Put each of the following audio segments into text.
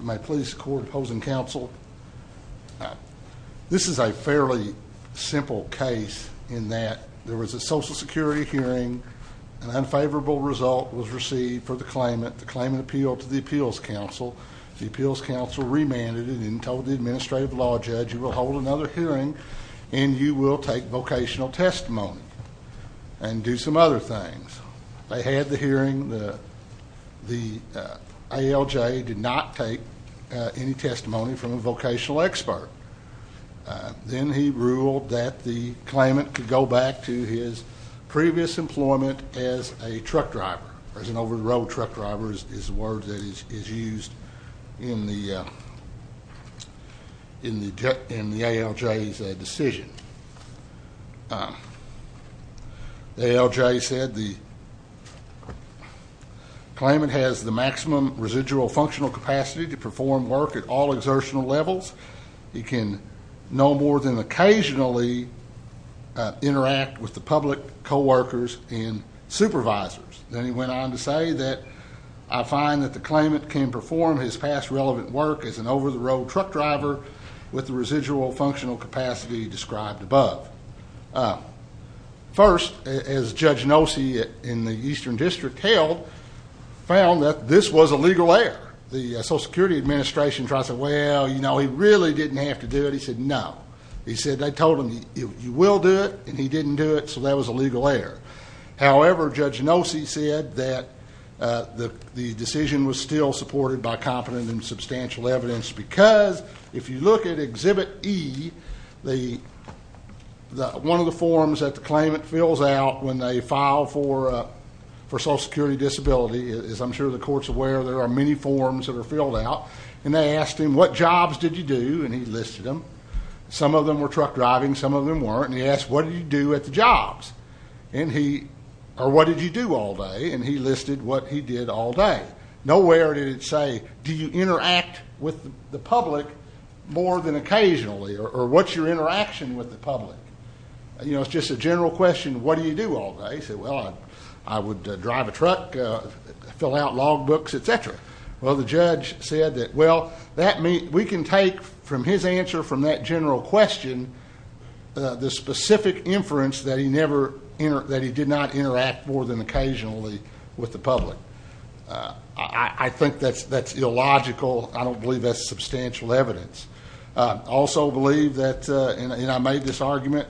My police court opposing counsel, this is a fairly simple case in that there was a social security hearing, an unfavorable result was received for the claimant, the claimant appealed to the appeals council, the appeals council remanded it and told the administrative law judge you will hold another hearing and you will take vocational testimony and do some other things. They had the hearing, the ALJ did not take any testimony from a vocational expert. Then he ruled that the claimant could go back to his previous employment as a truck driver, as an over the road truck driver is the word that is used in the ALJ's decision. The ALJ said the claimant has the maximum residual functional capacity to perform work at all exertional levels. He can no more than occasionally interact with the public, coworkers and supervisors. Then he went on to say that I find that the claimant can perform his past relevant work as an over the road truck driver with the residual functional capacity described above. First, as Judge Nosey in the Eastern District held, found that this was a legal error. The Social Security Administration tried to say, well, you know, he really didn't have to do it. He said no. He said they told him you will do it and he didn't do it so that was a legal error. However, Judge Nosey said that the decision was still supported by competent and substantial evidence because if you look at Exhibit E, one of the forms that the claimant fills out when they file for Social Security Disability, as I'm sure the court is aware, there are many forms that are filled out. They asked him what jobs did you do and he listed them. Some of them were truck driving, some of them weren't. He asked what did you do at the jobs or what did you do all day and he listed what he did all day. Nowhere did it say, do you interact with the public more than occasionally or what's your interaction with the public? You know, it's just a general question, what do you do all day? He said, well, I would drive a truck, fill out log books, etc. Well, the judge said that, well, we can take from his answer from that general question the specific inference that he did not interact more than occasionally with the public. I think that's illogical. I don't believe that's substantial evidence. Also believe that, and I made this argument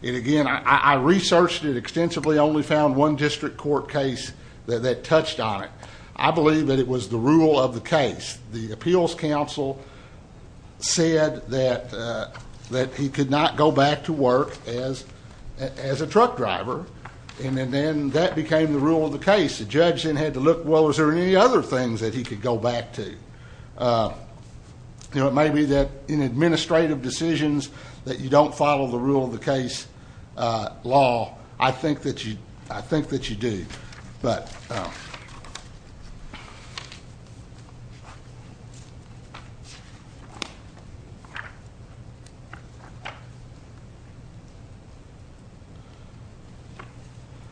and again, I researched it extensively, only found one district court case that touched on it. I believe that it was the rule of the case. The appeals counsel said that he could not go back to work as a truck driver. And then that became the rule of the case. The judge then had to look, well, is there any other things that he could go back to? You know, it may be that in administrative decisions that you don't follow the rule of the case law. I think that you do.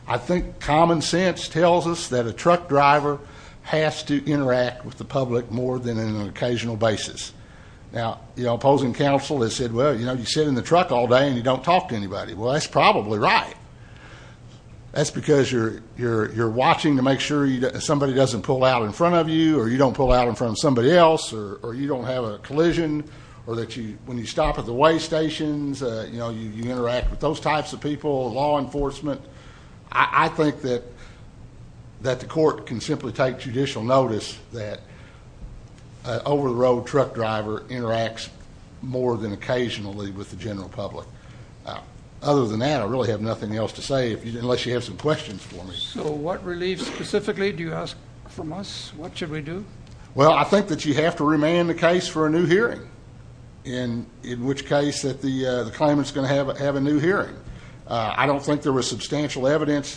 I think common sense tells us that a truck driver has to interact with the public more than on an occasional basis. Now, the opposing counsel has said, well, you know, you sit in the truck all day and you don't talk to anybody. Well, that's probably right. That's because you're watching to make sure somebody doesn't pull out in front of you, or you don't pull out in front of somebody else, or you don't have a collision, or that when you stop at the way stations, you know, you interact with those types of people, law enforcement. I think that the court can simply take judicial notice that an over-the-road truck driver interacts more than occasionally with the general public. Other than that, I really have nothing else to say unless you have some questions for me. So what relief specifically do you ask from us? What should we do? Well, I think that you have to remain the case for a new hearing, in which case that the claimant's going to have a new hearing. I don't think there was substantial evidence to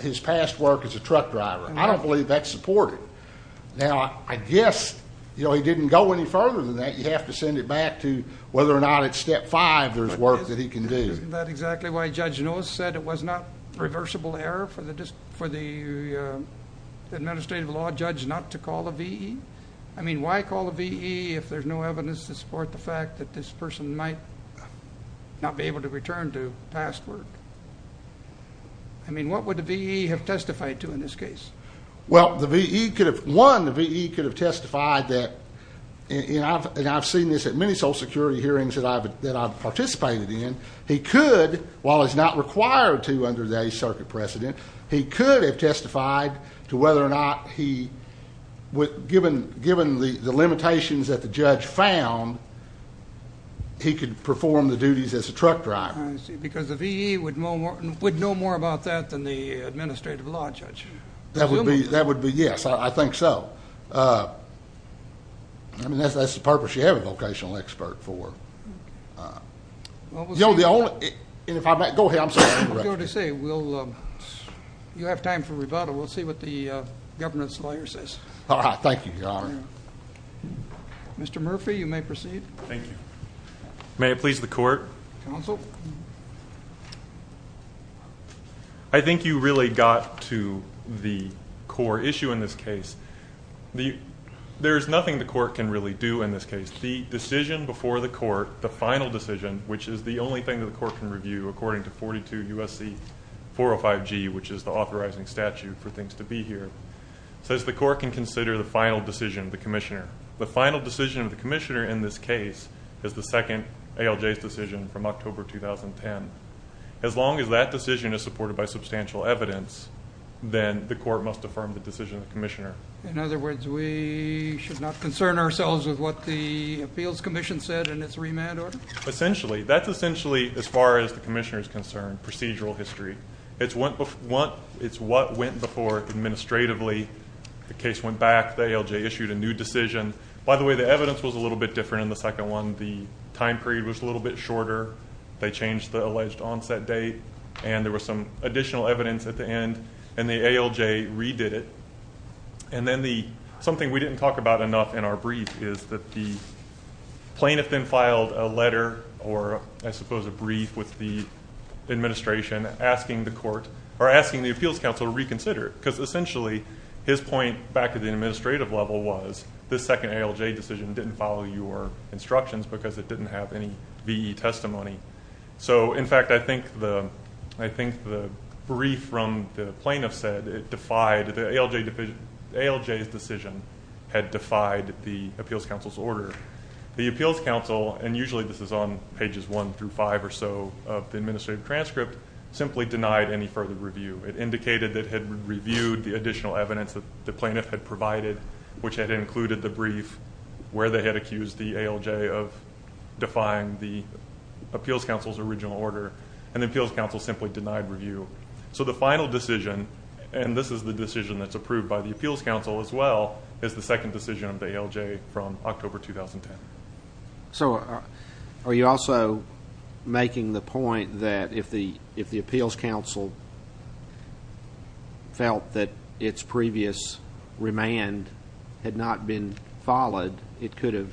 his past work as a truck driver. I don't believe that's supported. Now, I guess, you know, he didn't go any further than that. You have to send it back to whether or not at step five there's work that he can do. Isn't that exactly why Judge Nose said it was not reversible error for the administrative law judge not to call a VE? I mean, why call a VE if there's no evidence to support the fact that this person might not be able to return to past work? I mean, what would the VE have testified to in this case? Well, the VE could have, one, the VE could have testified that, and I've seen this at many Social Security hearings that I've participated in, he could, while he's not required to under the Eighth Circuit precedent, he could have testified to whether or not he, given the limitations that the judge found, he could perform the duties as truck driver. I see, because the VE would know more about that than the administrative law judge. That would be, yes, I think so. I mean, that's the purpose you have a vocational expert for. You know, the only, and if I may, go ahead, I'm sorry. I was going to say, you have time for rebuttal. We'll see what the governor's lawyer says. All right, thank you, Your Honor. Mr. Murphy, you may proceed. Thank you. May it please the court? Counsel? I think you really got to the core issue in this case. There is nothing the court can really do in this case. The decision before the court, the final decision, which is the only thing that the court can review according to 42 U.S.C. 405G, which is the authorizing statute for things to be here, says the court can consider the final decision of the commissioner. The final decision of the commissioner in this case is the second ALJ's decision from October 2010. As long as that decision is supported by substantial evidence, then the court must affirm the decision of the commissioner. In other words, we should not concern ourselves with what the appeals commission said in its remand order? Essentially, that's essentially, as far as the commissioner is concerned, it's what went before administratively. The case went back. The ALJ issued a new decision. By the way, the evidence was a little bit different in the second one. The time period was a little bit shorter. They changed the alleged onset date, and there was some additional evidence at the end, and the ALJ redid it. And then something we didn't talk about enough in our brief is that the plaintiff then filed a letter or, I suppose, a brief with the administration asking the appeals council to reconsider it. Because essentially, his point back at the administrative level was the second ALJ decision didn't follow your instructions because it didn't have any VE testimony. In fact, I think the brief from the plaintiff said the ALJ's decision had defied the appeals council's order. The appeals council, and usually this is on pages one through five or so of the administrative transcript, simply denied any further review. It indicated that it had reviewed the additional evidence that the plaintiff had provided, which had included the brief where they had accused the ALJ of defying the appeals council's original order, and the appeals council simply denied review. So the final decision, and this is the decision that's approved by the appeals council as well, is the second decision of the ALJ from October 2010. So are you also making the point that if the appeals council felt that its previous remand had not been followed, it could have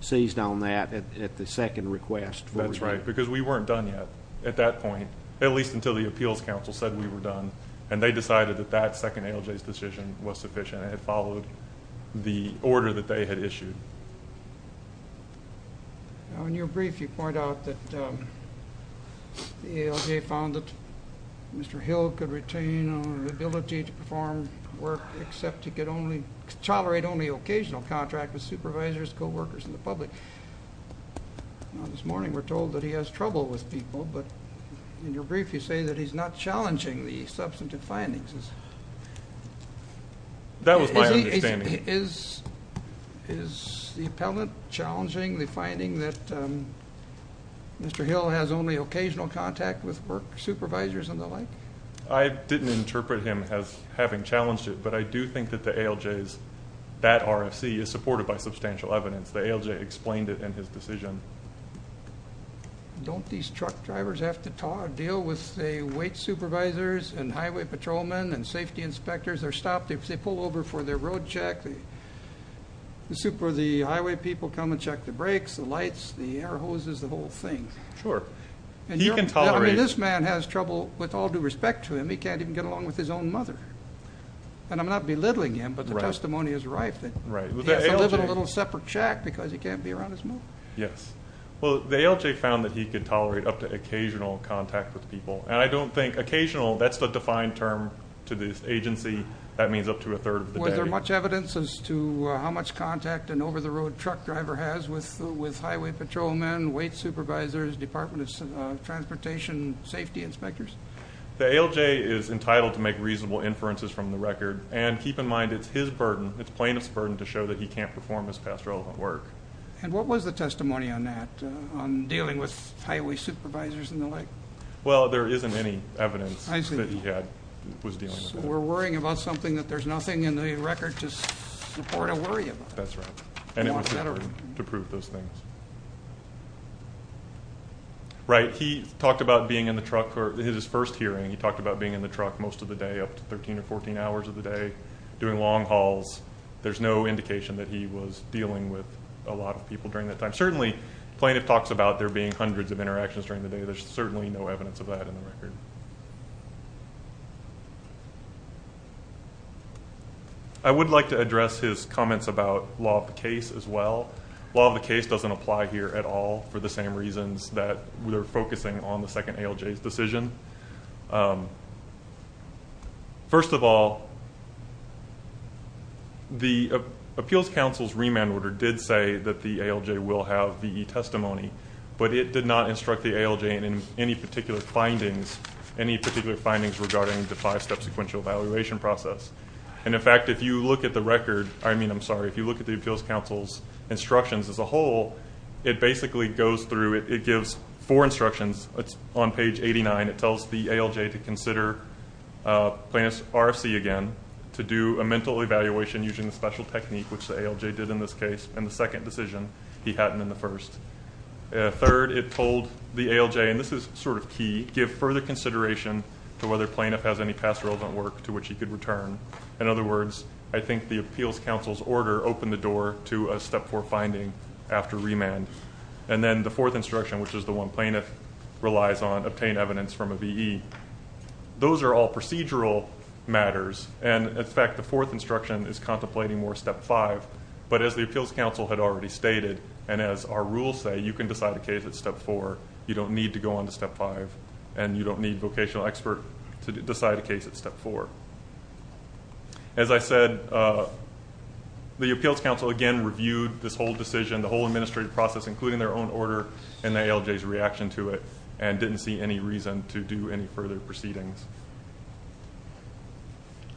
seized on that at the second request? That's right, because we weren't done yet at that point, at least until the appeals decision was sufficient and it followed the order that they had issued. Now, in your brief, you point out that the ALJ found that Mr. Hill could retain on the ability to perform work except he could tolerate only occasional contract with supervisors, co-workers, and the public. Now, this morning we're told that he has trouble with people, but in your brief you say that he's not challenging the substantive findings. That was my understanding. Is the appellant challenging the finding that Mr. Hill has only occasional contact with work supervisors and the like? I didn't interpret him as having challenged it, but I do think that the ALJ's, that RFC, is supported by substantial evidence. The ALJ explained it in his decision. Don't these truck drivers have to deal with the weight supervisors and highway patrolmen and safety inspectors? They're stopped. They pull over for their road check. The highway people come and check the brakes, the lights, the air hoses, the whole thing. Sure. He can tolerate- I mean, this man has trouble with all due respect to him. He can't even get along with his own mother. I'm not belittling him, but the testimony is rife that he has to live in a little separate shack because he can't be around his mother. Yes. Well, the ALJ found that he could tolerate up to occasional contact with people, and I don't think- occasional, that's the defined term to this agency. That means up to a third of the day. Was there much evidence as to how much contact an over-the-road truck driver has with highway patrolmen, weight supervisors, Department of Transportation safety inspectors? The ALJ is entitled to make reasonable inferences from the record, and keep in mind it's his burden, it's plaintiff's burden, to show that he can't perform his past relevant work. And what was the testimony on that, on dealing with highway supervisors and the like? Well, there isn't any evidence that he was dealing with. So we're worrying about something that there's nothing in the record to support or worry about? That's right, and it was to prove those things. Right, he talked about being in the truck for his first hearing. He talked about being in the truck most of the day, up to 13 or 14 hours of the day, doing long hauls. There's no indication that he was dealing with a lot of people during that time. Certainly, plaintiff talks about there being hundreds of interactions during the day. There's certainly no evidence of that in the record. I would like to address his comments about law of the case as well. Law of the case doesn't apply here at all for the same reasons that we're focusing on the second ALJ's First of all, the Appeals Council's remand order did say that the ALJ will have VE testimony, but it did not instruct the ALJ in any particular findings, any particular findings regarding the five-step sequential evaluation process. And in fact, if you look at the record, I mean, I'm sorry, if you look at the Appeals Council's instructions as a whole, it basically goes through, it gives four instructions. It's on page 89. It tells the ALJ to consider plaintiff's RFC again, to do a mental evaluation using the special technique, which the ALJ did in this case. And the second decision, he hadn't in the first. Third, it told the ALJ, and this is sort of key, give further consideration to whether plaintiff has any past relevant work to which he could return. In other words, I think the Appeals Council's order opened the door to a step four finding after remand. And then the fourth instruction, which is the one plaintiff relies on, obtain evidence from a VE. Those are all procedural matters. And in fact, the fourth instruction is contemplating more step five. But as the Appeals Council had already stated, and as our rules say, you can decide a case at step four. You don't need to go on to step five, and you don't need vocational expert to decide a case at step four. As I said, the Appeals Council, again, reviewed this whole administrative process, including their own order and the ALJ's reaction to it, and didn't see any reason to do any further proceedings.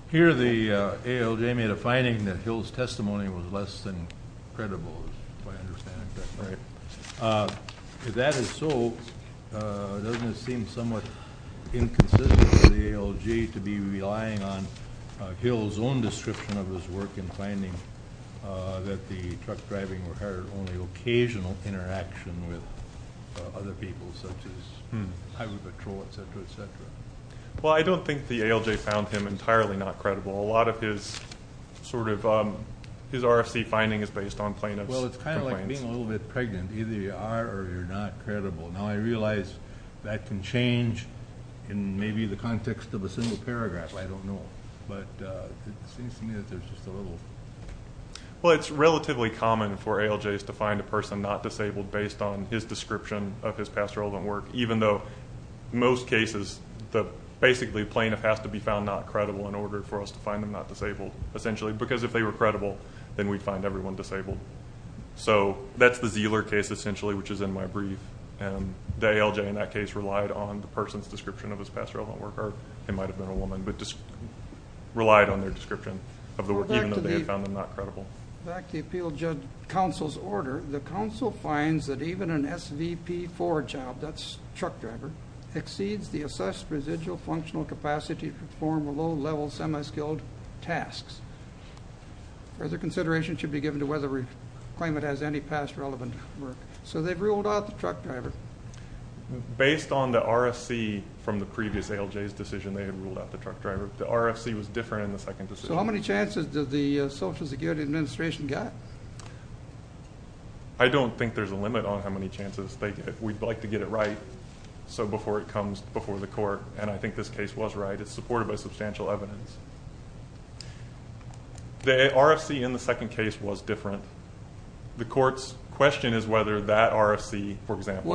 Here, the ALJ made a finding that Hill's testimony was less than credible, if I understand it correctly. If that is so, doesn't it seem somewhat inconsistent for the ALJ to be relying on only occasional interaction with other people, such as Highway Patrol, etc., etc.? Well, I don't think the ALJ found him entirely not credible. A lot of his sort of his RFC finding is based on plaintiff's complaints. Well, it's kind of like being a little bit pregnant. Either you are or you're not credible. Now, I realize that can change in maybe the context of a single paragraph. I don't know. But it seems to me that there's just a little... Well, it's relatively common for ALJs to find a person not disabled based on his description of his past relevant work, even though most cases, basically, plaintiff has to be found not credible in order for us to find them not disabled, essentially, because if they were credible, then we'd find everyone disabled. So that's the Zealer case, essentially, which is in my brief. And the ALJ in that case relied on the person's description of his past relevant work, or it might have been a woman, but just relied on their description of the work, even though they had found them not credible. Back to the Appeal Judges Council's order, the council finds that even an SVP4 job, that's truck driver, exceeds the assessed residual functional capacity to perform low-level semi-skilled tasks. Further consideration should be given to whether we claim it has any past relevant work. So they've ruled out the truck driver. Based on the RFC from the previous ALJ's decision, they had ruled out the truck driver. The RFC was different in the second decision. How many chances did the Social Security Administration get? I don't think there's a limit on how many chances they get. We'd like to get it right before it comes before the court, and I think this case was right. It's supported by substantial evidence. The RFC in the second case was different. The court's question is whether that RFC, for example...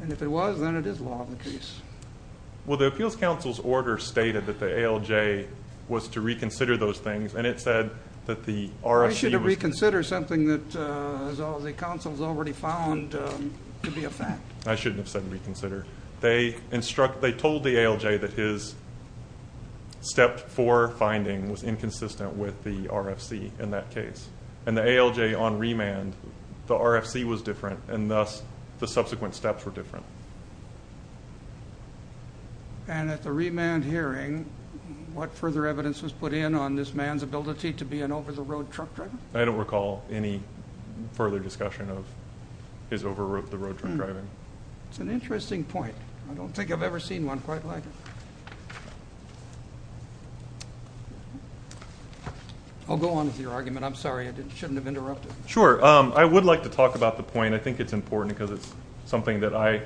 And if it was, then it is law in the case. Well, the Appeals Council's order stated that the ALJ was to reconsider those things, and it said that the RFC... You should have reconsidered something that the council's already found to be a fact. I shouldn't have said reconsider. They told the ALJ that his step four finding was inconsistent with the RFC in that case, and the ALJ on remand, the RFC was different, and thus the subsequent steps were different. And at the remand hearing, what further evidence was put in on this man's ability to be an over-the-road truck driver? I don't recall any further discussion of his over-the-road truck driving. It's an interesting point. I don't think I've ever seen one quite like it. I'll go on with your argument. I'm sorry. I shouldn't have interrupted. Sure. I would like to talk about the point. I think it's important because it's something that I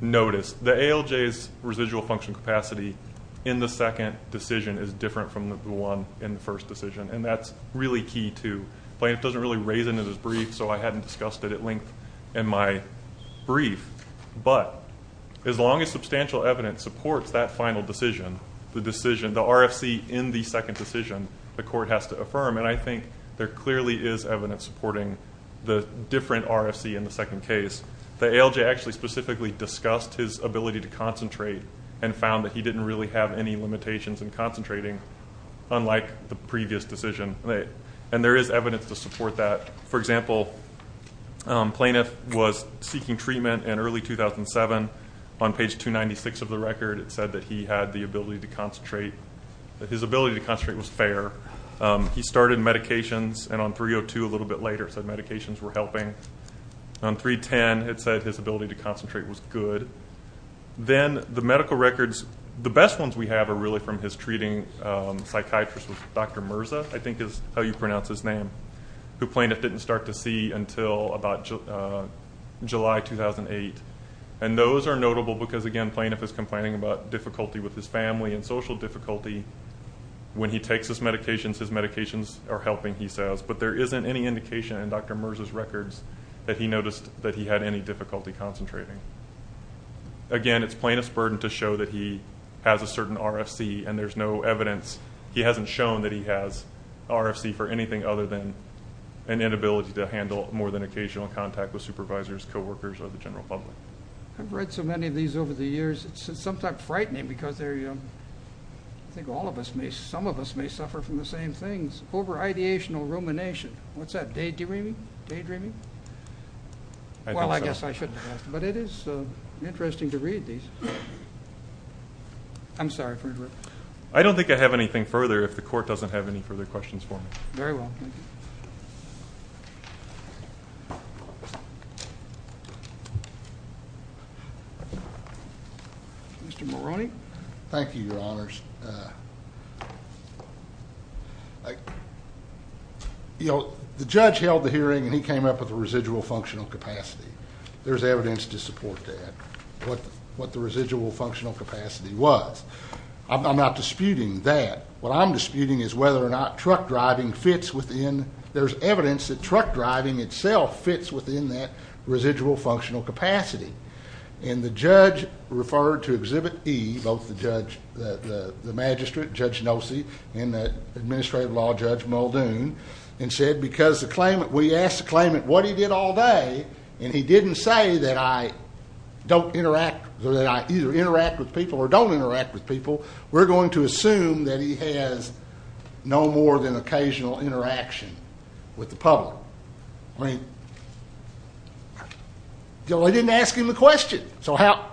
noticed. The ALJ's residual function capacity in the second decision is different from the one in the first decision, and that's really key, too. Plaintiff doesn't really raise it in his brief, so I hadn't discussed it at length in my brief, but as long as substantial evidence supports that final decision, the decision, the RFC in the second decision, the court has to affirm, and I think there clearly is evidence supporting the different RFC in the second case. The ALJ actually specifically discussed his ability to concentrate and found that he didn't really have any limitations in concentrating, unlike the previous decision. And there is evidence to support that. For example, plaintiff was seeking treatment in early 2007. On page 296 of the record, it said that he had the ability to concentrate. His ability to concentrate was fair. He started medications, and on 302, a little bit later, it said medications were helping. On 310, it said his ability to concentrate was good. Then the medical records, the best ones we have are really from his treating psychiatrist, Dr. Mirza, I think is how you pronounce his name, who plaintiff didn't start to see until about July 2008. And those are notable because, again, plaintiff is complaining about difficulty with his family and social difficulty. When he takes his medications, his medications are helping, he says. But there isn't any indication in Dr. Mirza's records that he noticed that he had any difficulty concentrating. Again, it's plaintiff's burden to show that he has a certain RFC, and there's no evidence. He hasn't shown that he has RFC for anything other than an inability to handle more than occasional contact with supervisors, coworkers, or the general public. I've read so many of these over the years. It's sometimes frightening because they're, I think all of us may, some of us may suffer from the same things, over-ideational rumination. What's that? Daydreaming? Daydreaming? Well, I guess I shouldn't have. But it is interesting to read these. I'm sorry for interrupting. I don't think I have anything further if the court doesn't have any further questions for me. Very well. Mr. Moroney? Thank you, Your Honors. You know, the judge held the hearing and he came up with a residual functional capacity. There's evidence to support that, what the residual functional capacity was. I'm not disputing that. What I'm disputing is whether or not truck driving fits within, there's evidence that truck driving itself fits within that residual functional capacity. And the judge referred to Exhibit E, both the judge, the magistrate, Judge Nossi, and the Administrative Law Judge Muldoon, and said because the claimant, we asked the claimant what he did all day, and he didn't say that I don't interact, or that I either interact with people or don't interact with people, we're going to assume that he has no more than occasional interaction with the public. I mean, they didn't ask him the question. So how,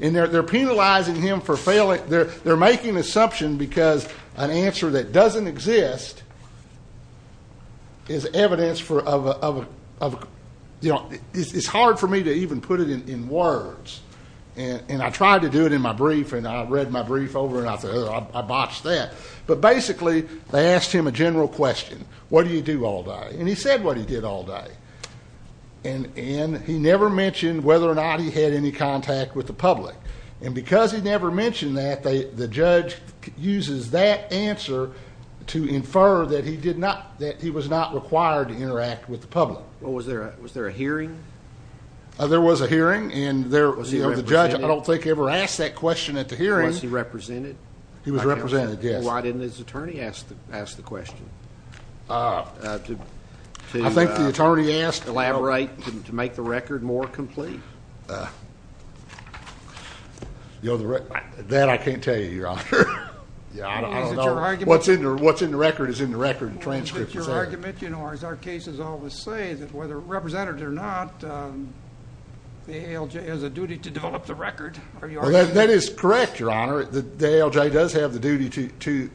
and they're penalizing him for failing, they're making an assumption because an answer that doesn't exist is evidence for, you know, it's hard for me to even put it in words. And I tried to do it in my brief and I read my brief over and I botched that. But basically, they asked him a general question. What do you do all day? And he said what he did all day. And he never mentioned whether or not he had any contact with the public. And because he never mentioned that, the judge uses that answer to infer that he did not, that he was not required to interact with the public. Well, was there a hearing? There was a hearing and the judge, I don't think, ever asked that question at the hearing. Was he represented? He was represented, yes. Why didn't his attorney ask the question? I think the attorney asked... Elaborate to make the record more complete. That I can't tell you, Your Honor. I don't know. What's in the record is in the record and transcript. Is it your argument, you know, as our cases always say, that whether represented or not, the ALJ has a duty to develop the record? That is correct, Your Honor. The ALJ does have the duty to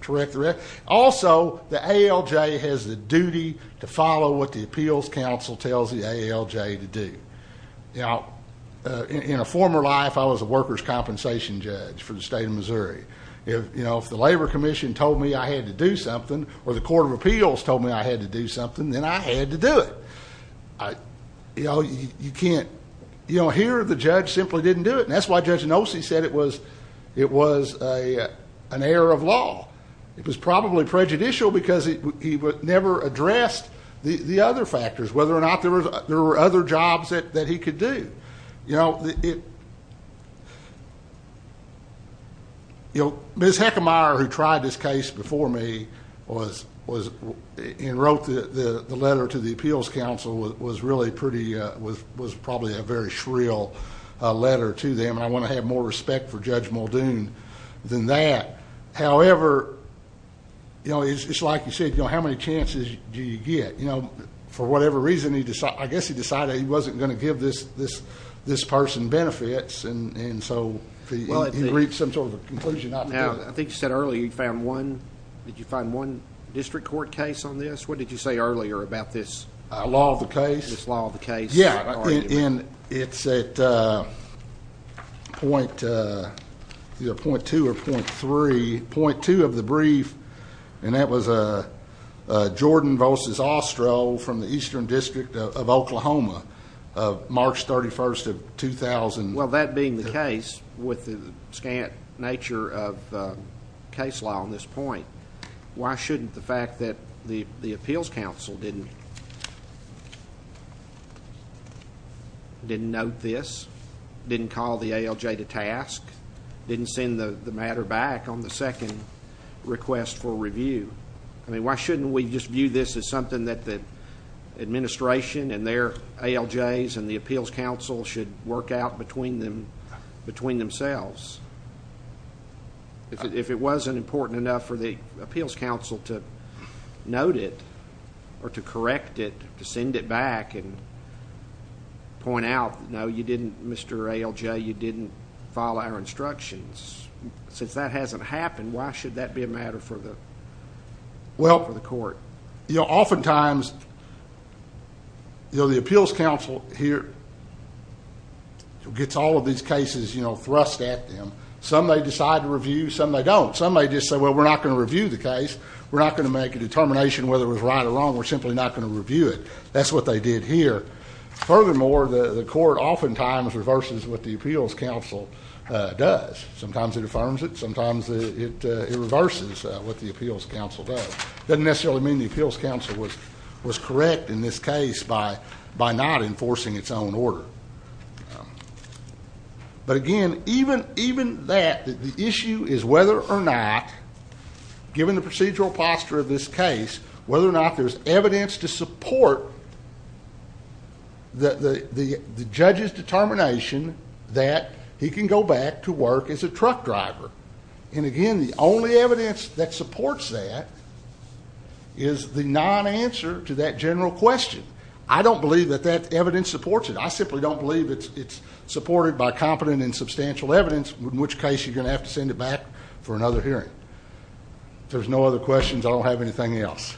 correct the record. Also, the ALJ has the duty to follow what the Appeals Council tells the ALJ to do. You know, in a former life, I was a workers' compensation judge for the state of Missouri. If, you know, if the Labor Commission told me I had to do something, or the Court of Appeals told me I had to do something, then I had to do it. You know, you can't... You know, here, the judge simply didn't do it. And that's why Judge Nossi said it was an error of law. It was probably prejudicial because he never addressed the other factors, whether or not there were other jobs that he could do. You know, it... You know, Ms. Heckemeyer, who tried this case before me, and wrote the letter to the Appeals Council, was really pretty, was probably a very shrill letter to them. I want to have more respect for Judge Muldoon than that. However, you know, it's like you said, you know, how many chances do you get? You know, for whatever reason, he decided... I guess he decided he wasn't going to give this person benefits. And so he agreed to some sort of a conclusion not to do it. I think you said earlier you found one... Did you find one district court case on this? What did you say earlier about this? Law of the case. This law of the case. Yeah, and it's at point... Point two of the brief, and that was Jordan v. Ostrow from the Eastern District of Oklahoma, March 31st of 2000. Well, that being the case, with the scant nature of case law on this point, why shouldn't the fact that the Appeals Council didn't... Didn't note this, didn't call the ALJ to task, didn't send the matter back on the second request for review. I mean, why shouldn't we just view this as something that the administration and their ALJs and the Appeals Council should work out between themselves? If it wasn't important enough for the Appeals Council to note it or to correct it, to send it back and point out, Mr. ALJ, you didn't follow our instructions. Since that hasn't happened, why should that be a matter for the court? Oftentimes, the Appeals Council here gets all of these cases thrust at them. Some they decide to review, some they don't. Some they just say, well, we're not going to review the case. We're not going to make a determination whether it was right or wrong. We're simply not going to review it. That's what they did here. Furthermore, the court oftentimes reverses what the Appeals Council does. Sometimes it affirms it. Sometimes it reverses what the Appeals Council does. Doesn't necessarily mean the Appeals Council was correct in this case by not enforcing its own order. But again, even that, the issue is whether or not, given the procedural posture of this case, whether or not there's evidence to support the judge's determination that he can go back to work as a truck driver. Again, the only evidence that supports that is the non-answer to that general question. I don't believe that that evidence supports it. I simply don't believe it's supported by competent and substantial evidence, in which case you're going to have to send it back for another hearing. If there's no other questions, I don't have anything else.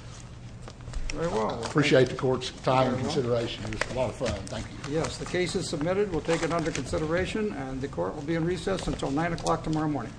Very well. Appreciate the court's time and consideration. It was a lot of fun. Thank you. Yes, the case is submitted. We'll take it under consideration. And the court will be in recess until 9 o'clock tomorrow morning.